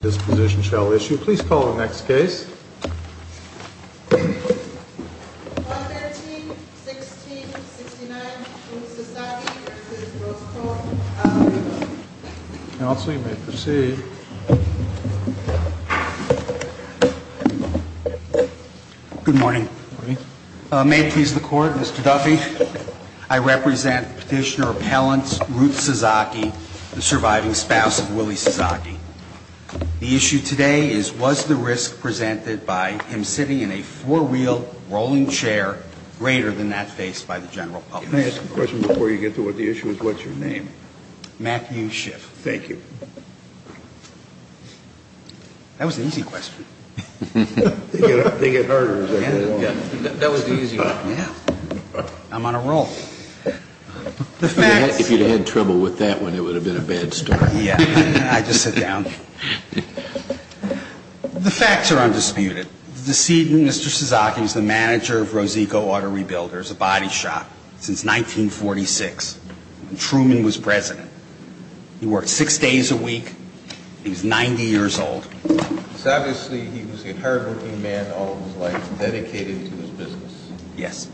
This position shall issue. Please call the next case. 513-1669 Ruth Sazaki v. Rose Cole, Alameda. Counsel, you may proceed. Good morning. Good morning. May it please the Court, Mr. Duffy, I represent Petitioner Appellant Ruth Sazaki, the surviving spouse of Willie Sazaki. The issue today is was the risk presented by him sitting in a four-wheeled rolling chair greater than that faced by the general public? Can I ask a question before you get to what the issue is? What's your name? Matthew Schiff. Thank you. They get harder as they go along. I'm on a roll. If you had trouble with that one, it would have been a bad story. Yeah. I just sit down. The facts are undisputed. Mr. Sazaki is the manager of Rosico Auto Rebuilders, a body shop, since 1946. Truman was president. He worked six days a week. He was 90 years old. Obviously, he was a hardworking man all his life, dedicated to his business. Yes.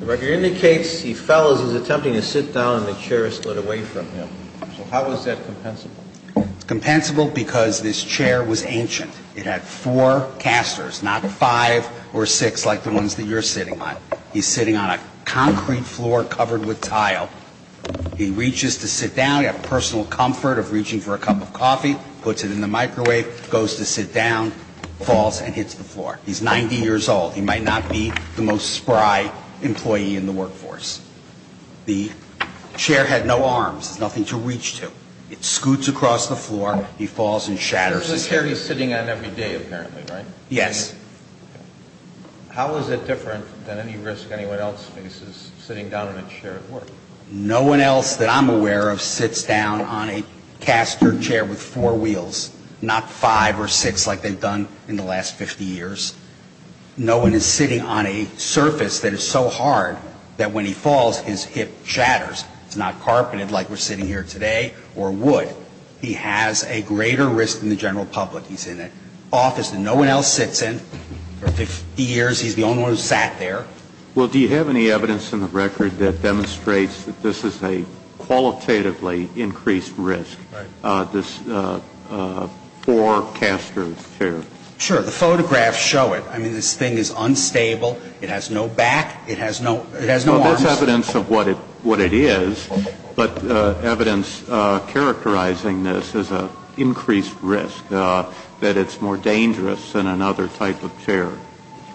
The record indicates he fell as he was attempting to sit down and the chair slid away from him. So how is that compensable? It's compensable because this chair was ancient. It had four casters, not five or six like the ones that you're sitting on. He's sitting on a concrete floor covered with tile. He reaches to sit down. He has a personal comfort of reaching for a cup of coffee, puts it in the microwave, goes to sit down, falls and hits the floor. He's 90 years old. He might not be the most spry employee in the workforce. The chair had no arms. There's nothing to reach to. It scoots across the floor. He falls and shatters his chair. This is a chair he's sitting on every day, apparently, right? Yes. How is it different than any risk anyone else faces sitting down in a chair at work? No one else that I'm aware of sits down on a caster chair with four wheels, not five or six like they've done in the last 50 years. No one is sitting on a surface that is so hard that when he falls, his hip shatters. It's not carpeted like we're sitting here today or wood. He has a greater risk than the general public. He's in an office that no one else sits in for 50 years. He's the only one who's sat there. Well, do you have any evidence in the record that demonstrates that this is a qualitatively increased risk, this four caster chair? Sure. The photographs show it. I mean, this thing is unstable. It has no back. It has no arms. Well, there's evidence of what it is, but evidence characterizing this as an increased risk, that it's more dangerous than another type of chair.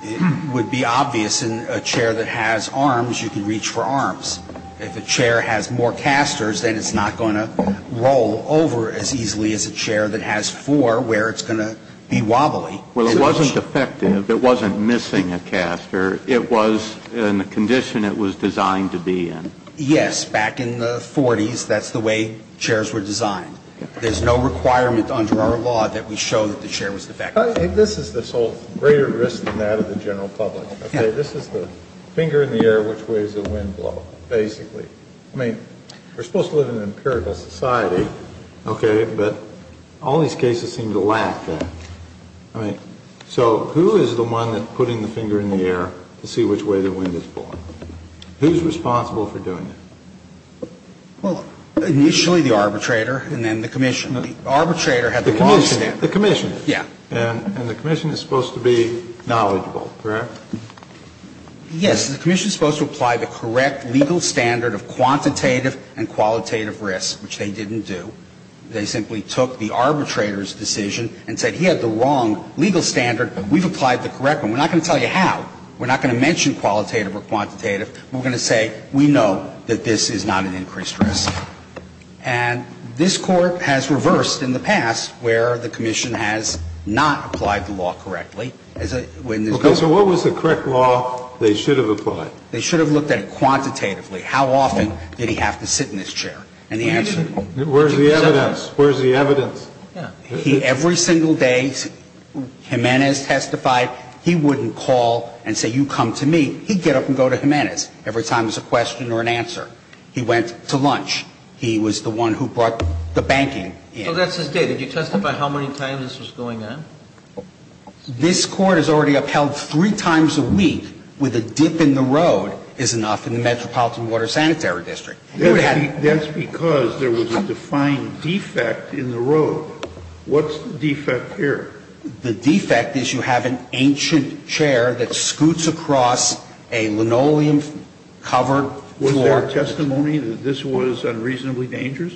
It would be obvious in a chair that has arms, you can reach for arms. If a chair has more casters, then it's not going to roll over as easily as a chair that has four where it's going to be wobbly. Well, it wasn't defective. It wasn't missing a caster. It was in the condition it was designed to be in. Yes. Back in the 40s, that's the way chairs were designed. There's no requirement under our law that we show that the chair was defective. This is this whole greater risk than that of the general public. Okay? This is the finger in the air which way does the wind blow, basically. I mean, we're supposed to live in an empirical society, okay, but all these cases seem to lack that. I mean, so who is the one that's putting the finger in the air to see which way the wind is blowing? Who's responsible for doing it? Well, initially the arbitrator, and then the commission. The arbitrator had the function. The commission. Yeah. And the commission is supposed to be knowledgeable, correct? Yes. The commission is supposed to apply the correct legal standard of quantitative and qualitative risk, which they didn't do. They simply took the arbitrator's decision and said he had the wrong legal standard. We've applied the correct one. We're not going to tell you how. We're not going to mention qualitative or quantitative. We're going to say we know that this is not an increased risk. And this Court has reversed in the past where the commission has not applied the law correctly. So what was the correct law they should have applied? They should have looked at it quantitatively. How often did he have to sit in his chair? And the answer? Where's the evidence? Where's the evidence? Every single day Jimenez testified. He wouldn't call and say you come to me. He'd get up and go to Jimenez every time there's a question or an answer. He went to lunch. He was the one who brought the banking in. So that's his day. Did you testify how many times this was going on? This Court has already upheld three times a week with a dip in the road is enough in the Metropolitan Water Sanitary District. That's because there was a defined defect in the road. What's the defect here? The defect is you have an ancient chair that scoots across a linoleum covered floor. Is there a testimony that this was unreasonably dangerous?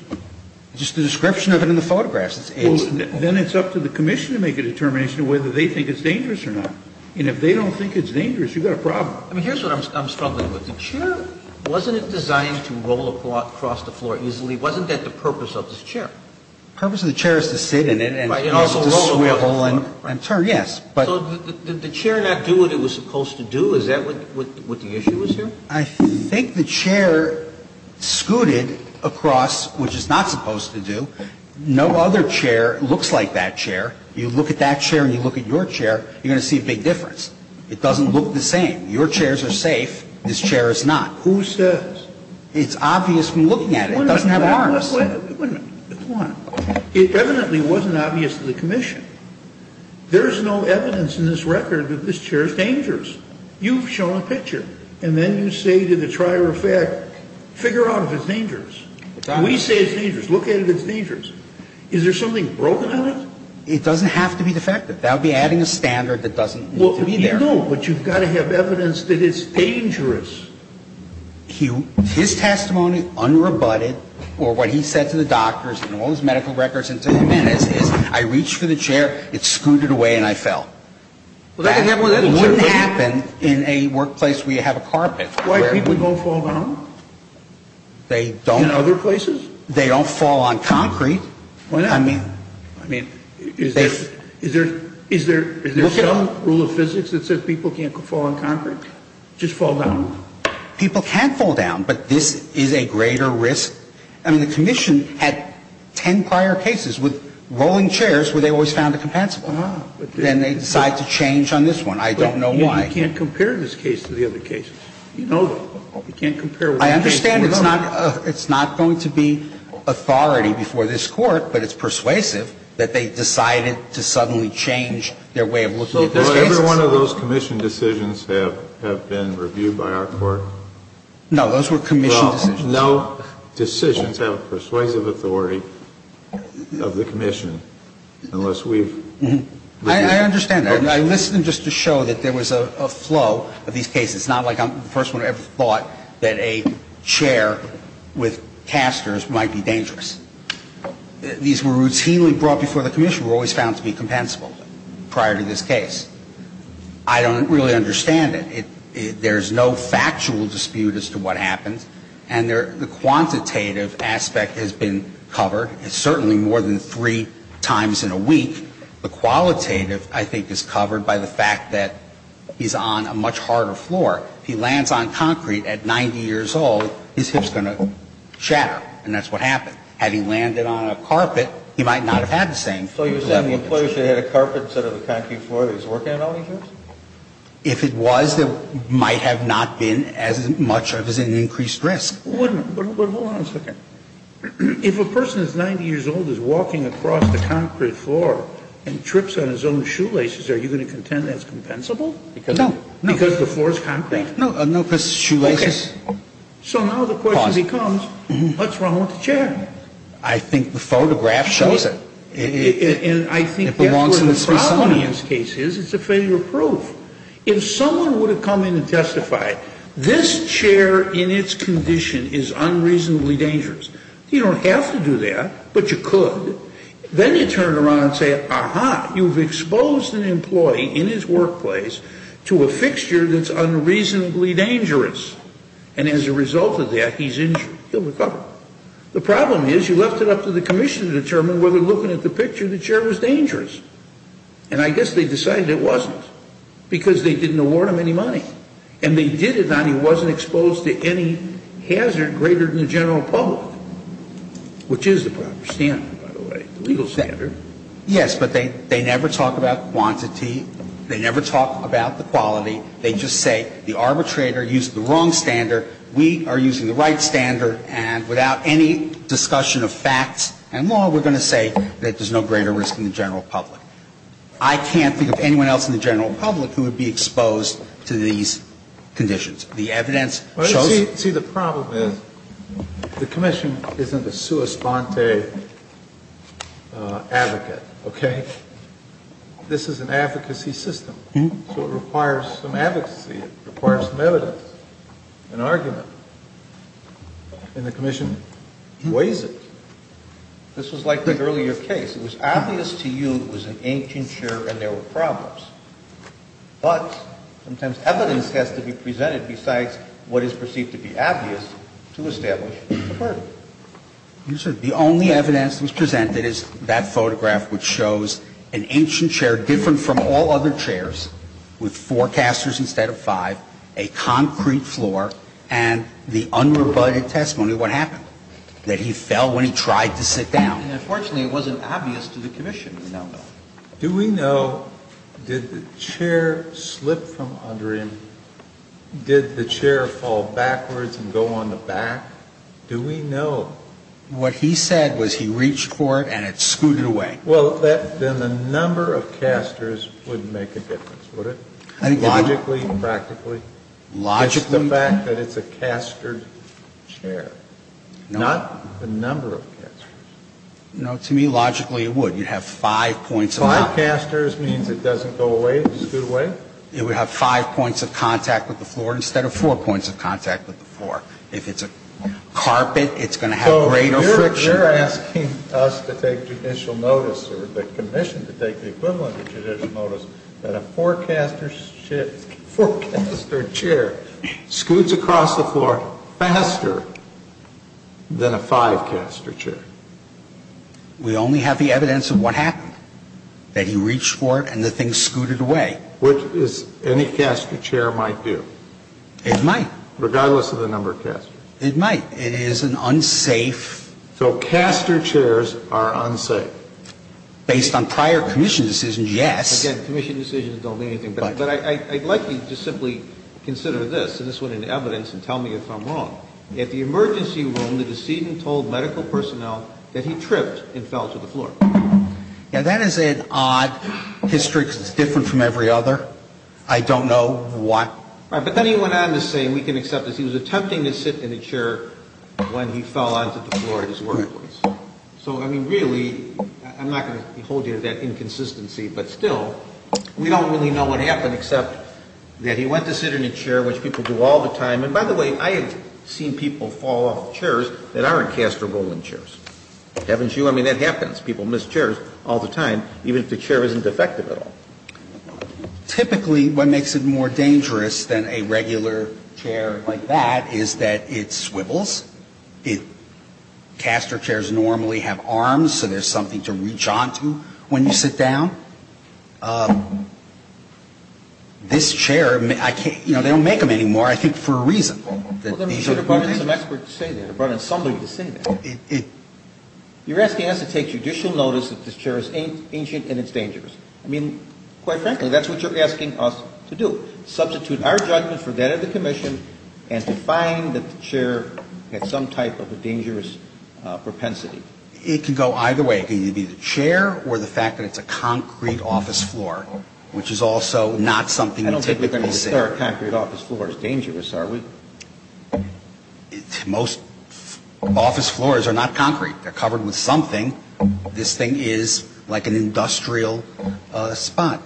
It's just the description of it in the photographs. It's ancient. Then it's up to the commission to make a determination whether they think it's dangerous or not. And if they don't think it's dangerous, you've got a problem. I mean, here's what I'm struggling with. The chair, wasn't it designed to roll across the floor easily? Wasn't that the purpose of this chair? The purpose of the chair is to sit in it and to swivel and turn, yes. So did the chair not do what it was supposed to do? Is that what the issue is here? I think the chair scooted across, which it's not supposed to do. No other chair looks like that chair. You look at that chair and you look at your chair, you're going to see a big difference. It doesn't look the same. Your chairs are safe. This chair is not. Who says? It's obvious from looking at it. It doesn't have arms. Wait a minute. Come on. It evidently wasn't obvious to the commission. There is no evidence in this record that this chair is dangerous. You've shown a picture. And then you say to the trier of fact, figure out if it's dangerous. We say it's dangerous. Look at it if it's dangerous. Is there something broken in it? It doesn't have to be defective. That would be adding a standard that doesn't need to be there. No, but you've got to have evidence that it's dangerous. His testimony, unrebutted, or what he said to the doctors and all those medical records in 30 minutes is, I reached for the chair, it scooted away, and I fell. That wouldn't happen in a workplace where you have a carpet. Why people don't fall down? They don't. In other places? They don't fall on concrete. Why not? I mean, is there some rule of physics that says people can't fall on concrete? Just fall down? People can fall down, but this is a greater risk. I mean, the commission had ten prior cases with rolling chairs where they always found it compensable. Then they decide to change on this one. I don't know why. But you can't compare this case to the other cases. You know that. You can't compare one case to another. I understand it's not going to be authority before this Court, but it's persuasive that they decided to suddenly change their way of looking at these cases. Does every one of those commission decisions have been reviewed by our Court? No. Those were commission decisions. No decisions have persuasive authority of the commission unless we've reviewed them. I understand that. I listened just to show that there was a flow of these cases. It's not like I'm the first one who ever thought that a chair with casters might be dangerous. These were routinely brought before the commission, were always found to be compensable prior to this case. I don't really understand it. There's no factual dispute as to what happens. And the quantitative aspect has been covered. It's certainly more than three times in a week. The qualitative, I think, is covered by the fact that he's on a much harder floor. If he lands on concrete at 90 years old, his hip's going to shatter. And that's what happened. Had he landed on a carpet, he might not have had the same. So you're saying the employer should have had a carpet instead of a concrete floor that he was working on all these years? If it was, there might have not been as much of an increased risk. But hold on a second. If a person is 90 years old, is walking across the concrete floor, and trips on his own shoelaces, are you going to contend that's compensable? No. Because the floor is concrete. No, because shoelaces. Okay. So now the question becomes, what's wrong with the chair? I think the photograph shows it. And I think that's where the problem in this case is. It's a failure of proof. If someone would have come in and testified, this chair in its condition is unreasonably dangerous. You don't have to do that, but you could. Then you turn around and say, ah-ha, you've exposed an employee in his workplace to a fixture that's unreasonably dangerous. And as a result of that, he's injured. He'll recover. The problem is, you left it up to the commissioner to determine whether, looking at the picture, the chair was dangerous. And I guess they decided it wasn't, because they didn't award him any money. And they did it on he wasn't exposed to any hazard greater than the general public, which is the proper standard, by the way, the legal standard. Yes, but they never talk about quantity. They never talk about the quality. They just say the arbitrator used the wrong standard. We are using the right standard. And without any discussion of facts and law, we're going to say that there's no greater risk than the general public. I can't think of anyone else in the general public who would be exposed to these conditions. The evidence shows it. See, the problem is, the commission isn't a sua sponte advocate, okay? This is an advocacy system. So it requires some advocacy. It requires some evidence, an argument. And the commission weighs it. This was like the earlier case. It was obvious to you it was an ancient chair and there were problems. But sometimes evidence has to be presented besides what is perceived to be obvious to establish the burden. You said the only evidence that was presented is that photograph which shows an ancient chair different from all other chairs with four casters instead of five, a concrete floor, and the unrebutted testimony of what happened, that he fell when he tried to sit down. Unfortunately, it wasn't obvious to the commission. Do we know, did the chair slip from under him? Did the chair fall backwards and go on the back? Do we know? What he said was he reached for it and it scooted away. Well, then the number of casters wouldn't make a difference, would it? Logically, practically. Logically. Just the fact that it's a castered chair. No. Not the number of casters. To me, logically, it would. You'd have five points of contact. Five casters means it doesn't go away, it would scoot away? It would have five points of contact with the floor instead of four points of contact with the floor. If it's a carpet, it's going to have greater friction. So you're asking us to take judicial notice or the commission to take the equivalent of judicial notice that a four-caster chair scoots across the floor faster than a five-caster chair? We only have the evidence of what happened, that he reached for it and the thing scooted away. Which is any caster chair might do. It might. Regardless of the number of casters. It might. It is an unsafe. So caster chairs are unsafe. Based on prior commission decisions, yes. Again, commission decisions don't mean anything. But I'd like you to simply consider this, and this went into evidence, and tell me if I'm wrong. At the emergency room, the decedent told medical personnel that he tripped and fell to the floor. Now, that is an odd history because it's different from every other. I don't know why. Right. But then he went on to say, we can accept this, he was attempting to sit in a chair when he fell onto the floor at his workplace. So, I mean, really, I'm not going to hold you to that inconsistency, but still, we don't really know what happened except that he went to sit in a chair, which people do all the time. And by the way, I have seen people fall off chairs that aren't caster rolling chairs. Haven't you? I mean, that happens. People miss chairs all the time, even if the chair isn't defective at all. Typically, what makes it more dangerous than a regular chair like that is that it swivels. Caster chairs normally have arms, so there's something to reach onto when you sit down. This chair, I can't, you know, they don't make them anymore. I think for a reason. Well, then you should have brought in some experts to say that or brought in somebody to say that. You're asking us to take judicial notice that this chair is ancient and it's dangerous. I mean, quite frankly, that's what you're asking us to do, substitute our judgment for that of the commission and to find that the chair had some type of a dangerous propensity. It can go either way. It can either be the chair or the fact that it's a concrete office floor, which is also not something you typically see. It's not a concrete office floor. It's dangerous, are we? Most office floors are not concrete. They're covered with something. This thing is like an industrial spot.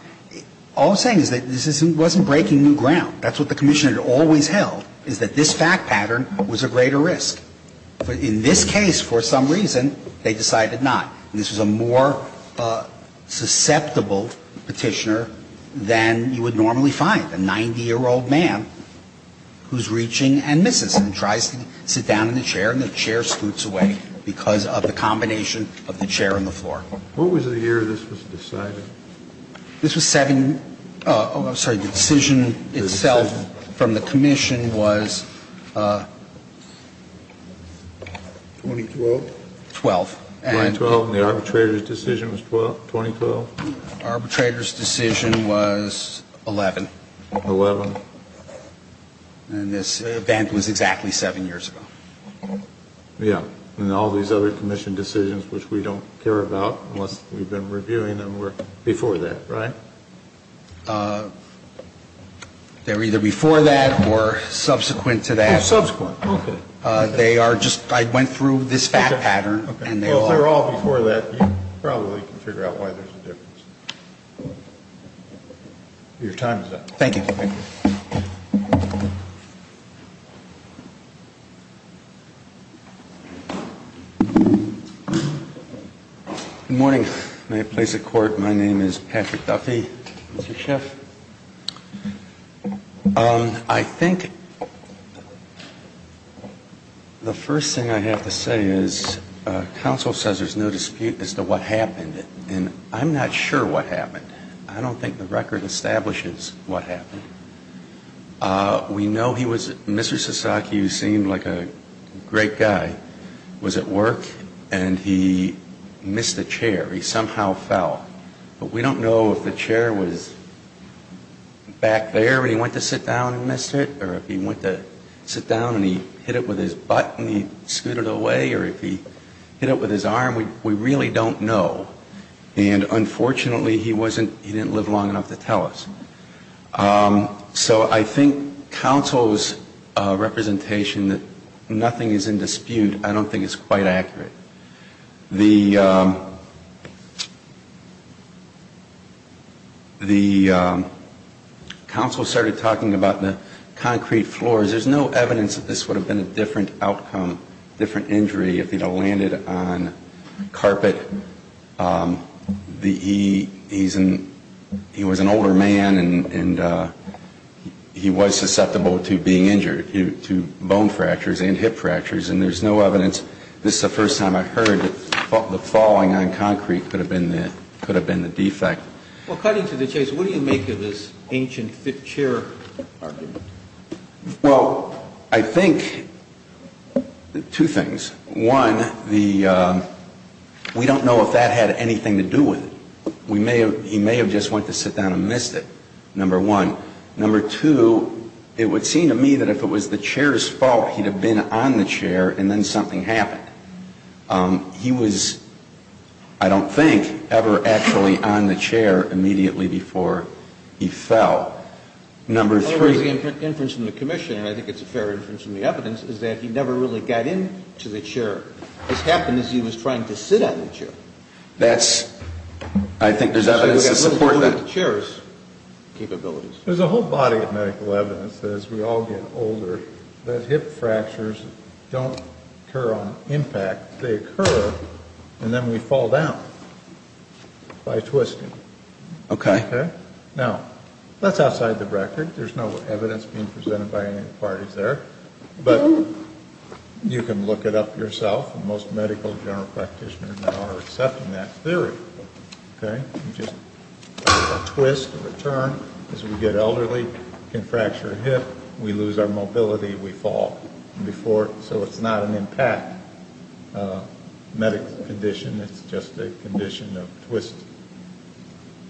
All I'm saying is that this wasn't breaking new ground. That's what the commission had always held, is that this fact pattern was a greater But in this case, for some reason, they decided not. And this was a more susceptible Petitioner than you would normally find, a 90-year-old man who's reaching and misses and tries to sit down in the chair and the chair scoots away because of the combination of the chair and the floor. What was the year this was decided? This was 7 oh, I'm sorry, the decision itself from the commission was 2012. 2012, and the arbitrator's decision was 2012? Arbitrator's decision was 11. 11. And this event was exactly 7 years ago. Yeah. And all these other commission decisions which we don't care about unless we've been reviewing them were before that, right? They were either before that or subsequent to that. Oh, subsequent. Okay. They are just, I went through this fact pattern. Okay. Well, if they were all before that, you probably can figure out why there's a difference. Your time is up. Thank you. Thank you. Good morning. May it please the Court, my name is Patrick Duffy. Mr. Schiff. I think the first thing I have to say is counsel says there's no dispute as to what happened. And I'm not sure what happened. I don't think the record establishes what happened. We know he was, Mr. Sasaki, who seemed like a great guy, was at work and he missed the chair. He somehow fell. But we don't know if the chair was back there when he went to sit down and missed it or if he went to sit down and he hit it with his butt and he scooted away or if he hit it with his arm. We really don't know. And unfortunately, he wasn't, he didn't live long enough to tell us. So I think counsel's representation that nothing is in dispute, I don't think is quite accurate. The counsel started talking about the concrete floors. There's no evidence that this would have been a different outcome, different injury if he had landed on carpet. He was an older man and he was susceptible to being injured, to bone fractures and hip fractures. And there's no evidence. This is the first time I've heard that the falling on concrete could have been the defect. Well, cutting to the chase, what do you make of this ancient chair argument? Well, I think two things. One, we don't know if that had anything to do with it. He may have just went to sit down and missed it, number one. Number two, it would seem to me that if it was the chair's fault, he'd have been on the chair and then something happened. He was, I don't think, ever actually on the chair immediately before he fell. Number three. The inference from the commission, and I think it's a fair inference from the evidence, is that he never really got into the chair. This happened as he was trying to sit on the chair. That's, I think there's evidence to support that. There's a whole body of medical evidence, as we all get older, that hip fractures don't occur on impact. They occur, and then we fall down by twisting. Okay. Now, that's outside the record. There's no evidence being presented by any parties there. But you can look it up yourself. Most medical general practitioners now are accepting that theory. Okay. Just a twist or a turn, as we get elderly, can fracture a hip. We lose our mobility. We fall. So it's not an impact medical condition. It's just a condition of twist,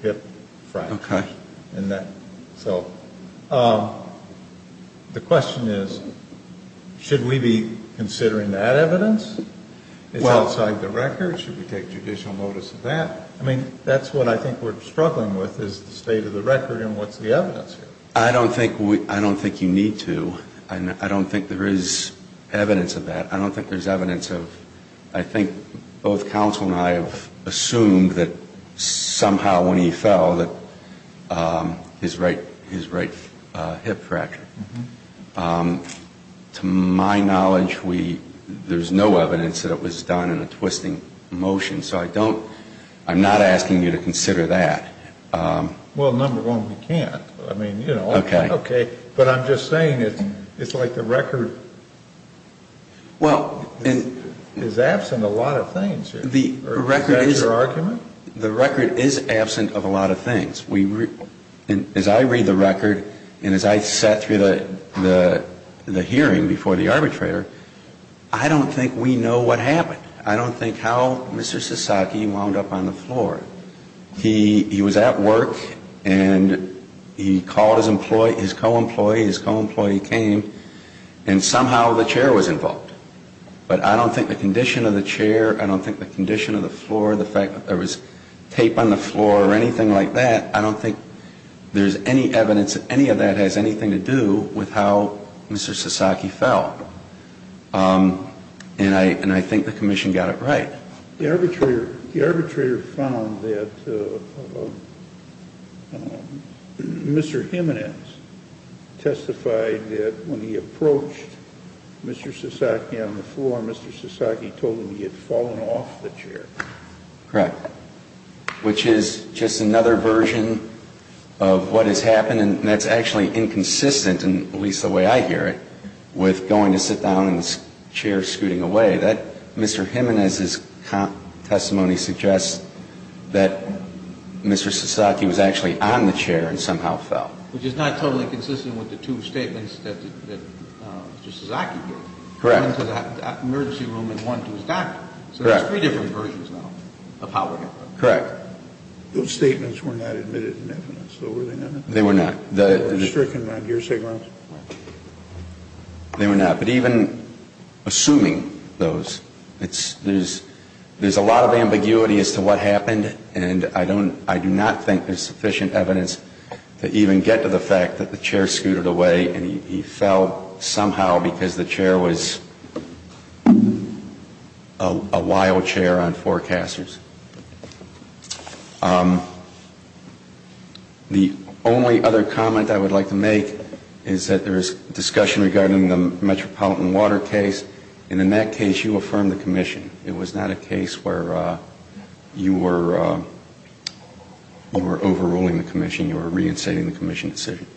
hip fracture. Okay. So the question is, should we be considering that evidence? It's outside the record. Should we take judicial notice of that? I mean, that's what I think we're struggling with is the state of the record and what's the evidence here. I don't think you need to. I don't think there is evidence of that. I don't think there's evidence of, I think both counsel and I have assumed that somehow when he fell that his right hip fractured. To my knowledge, we, there's no evidence that it was done in a twisting motion. So I don't, I'm not asking you to consider that. Well, number one, we can't. I mean, you know. Okay. Okay. But I'm just saying it's like the record is absent of a lot of things. Is that your argument? The record is absent of a lot of things. As I read the record and as I sat through the hearing before the arbitrator, I don't think we know what happened. I don't think how Mr. Sasaki wound up on the floor. He was at work and he called his employee, his co-employee. His co-employee came and somehow the chair was involved. But I don't think the condition of the chair, I don't think the condition of the floor, the fact that there was tape on the floor or anything like that, I don't think there's any evidence that any of that has anything to do with how Mr. Sasaki fell. And I think the commission got it right. The arbitrator found that Mr. Jimenez testified that when he approached Mr. Sasaki on the floor, Mr. Sasaki told him he had fallen off the chair. Correct. Which is just another version of what has happened, and that's actually inconsistent, at least the way I hear it, with going to sit down and the chair scooting away. Mr. Jimenez's testimony suggests that Mr. Sasaki was actually on the chair and somehow fell. Which is not totally consistent with the two statements that Mr. Sasaki gave. Correct. He was in the emergency room and went to his doctor. Correct. So there's three different versions now of how it happened. Correct. Those statements were not admitted in evidence, though, were they not? They were not. They were stricken on your statements? They were not. But even assuming those, there's a lot of ambiguity as to what happened, and I do not think there's sufficient evidence to even get to the fact that the chair scooted away and he fell somehow because the chair was a wild chair on forecasters. The only other comment I would like to make is that there is discussion regarding the Metropolitan Water case, and in that case you affirmed the commission. It was not a case where you were overruling the commission. You were reinstating the commission decision.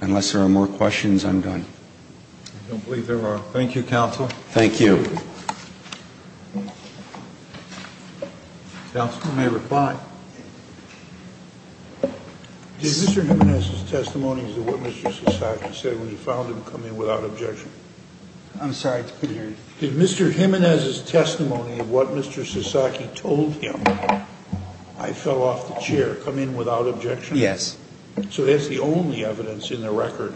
Unless there are more questions, I'm done. I don't believe there are. Thank you, Counsel. Thank you. Counsel may reply. Did Mr. Jimenez's testimony of what Mr. Sasaki said when you found him come in without objection? I'm sorry, I couldn't hear you. Did Mr. Jimenez's testimony of what Mr. Sasaki told him, I fell off the chair, come in without objection? Yes. So that's the only evidence in the record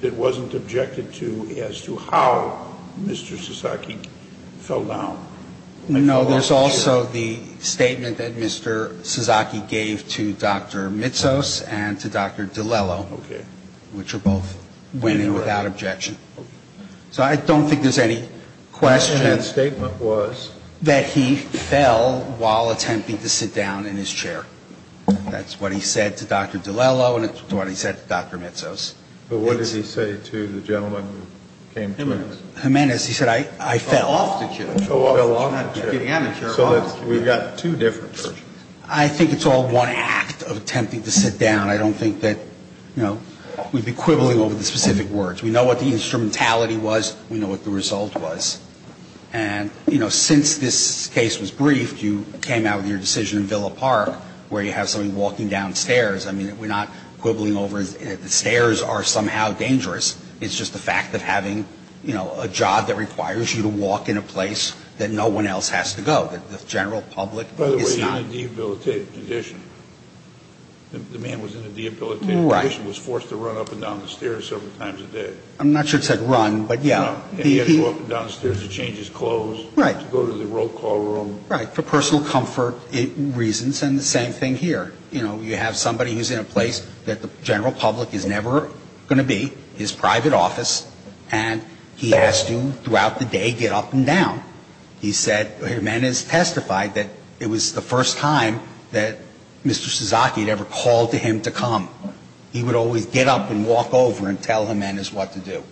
that wasn't objected to as to how Mr. Sasaki fell down. No, there's also the statement that Mr. Sasaki gave to Dr. Mitzos and to Dr. DiLello, which are both women without objection. So I don't think there's any question. But that statement was? That he fell while attempting to sit down in his chair. That's what he said to Dr. DiLello and that's what he said to Dr. Mitzos. But what did he say to the gentleman who came to him? Jimenez. Jimenez. He said, I fell off the chair. Fell off the chair. So we've got two different versions. I think it's all one act of attempting to sit down. I don't think that, you know, we'd be quibbling over the specific words. We know what the instrumentality was. We know what the result was. And, you know, since this case was briefed, you came out with your decision in Villa Park where you have somebody walking downstairs. I mean, we're not quibbling over the stairs are somehow dangerous. It's just the fact that having, you know, a job that requires you to walk in a place that no one else has to go, the general public is not. By the way, he was in a debilitated condition. The man was in a debilitated condition, was forced to run up and down the stairs several times a day. I'm not sure it said run, but yeah. He had to go up and down the stairs to change his clothes. Right. To go to the roll call room. Right. For personal comfort reasons, and the same thing here. You know, you have somebody who's in a place that the general public is never going to be, his private office, and he has to, throughout the day, get up and down. He said, or Jimenez testified that it was the first time that Mr. Suzuki had ever called to him to come. He would always get up and walk over and tell Jimenez what to do.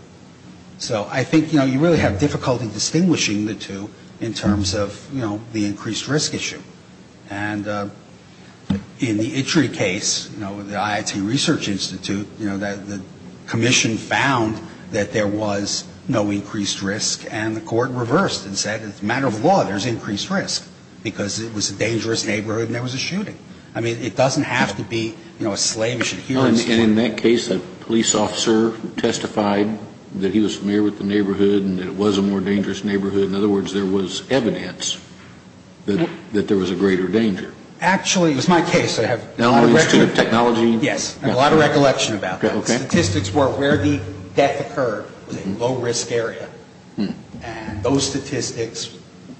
So I think, you know, you really have difficulty distinguishing the two in terms of, you know, the increased risk issue. And in the Itchery case, you know, with the IIT Research Institute, you know, the commission found that there was no increased risk, and the court reversed and said, as a matter of law, there's increased risk because it was a dangerous neighborhood and there was a shooting. I mean, it doesn't have to be, you know, a slavish adherence. And in that case, a police officer testified that he was familiar with the neighborhood and that it was a more dangerous neighborhood. In other words, there was evidence that there was a greater danger. Actually, it was my case. I have a lot of recollection. Yes. I have a lot of recollection about that. Okay. The statistics were where the death occurred was a low-risk area. And those statistics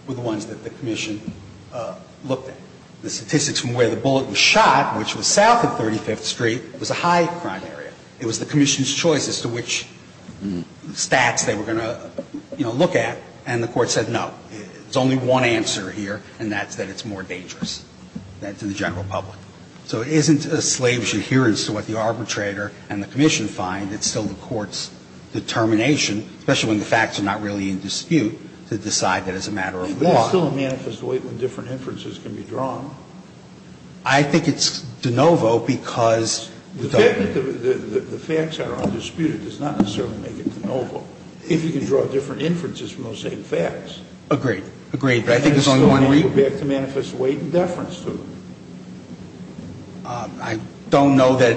were the ones that the commission looked at. The statistics from where the bullet was shot, which was south of 35th Street, was a high-crime area. It was the commission's choice as to which stats they were going to, you know, look at, and the court said, no, there's only one answer here, and that's that it's more dangerous to the general public. So it isn't a slavish adherence to what the arbitrator and the commission find. It's still the court's determination, especially when the facts are not really in dispute, to decide that it's a matter of law. It's still a manifest weight when different inferences can be drawn. I think it's de novo because the document. The fact that the facts are undisputed does not necessarily make it de novo, if you can draw different inferences from those same facts. Agreed. Agreed. But I think it's only one reason. It's the only way to get the manifest weight and deference to it. I don't know that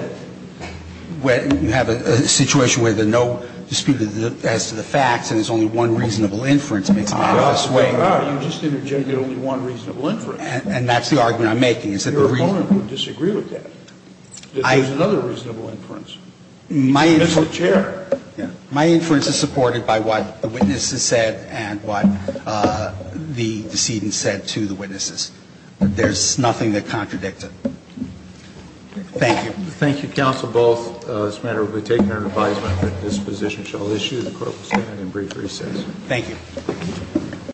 you have a situation where there's no dispute as to the facts and there's only one reasonable inference that makes a manifest weight. Well, you just interjected only one reasonable inference. And that's the argument I'm making, is that the reason. Your opponent would disagree with that. There's another reasonable inference. Mr. Chair. My inference is supported by what the witness has said and what the decedent said to the witnesses. There's nothing that contradicts it. Thank you. Thank you, counsel, both. This matter will be taken under advisement. This position shall issue. The court will stand in brief recess. Thank you. Thank you. Thank you.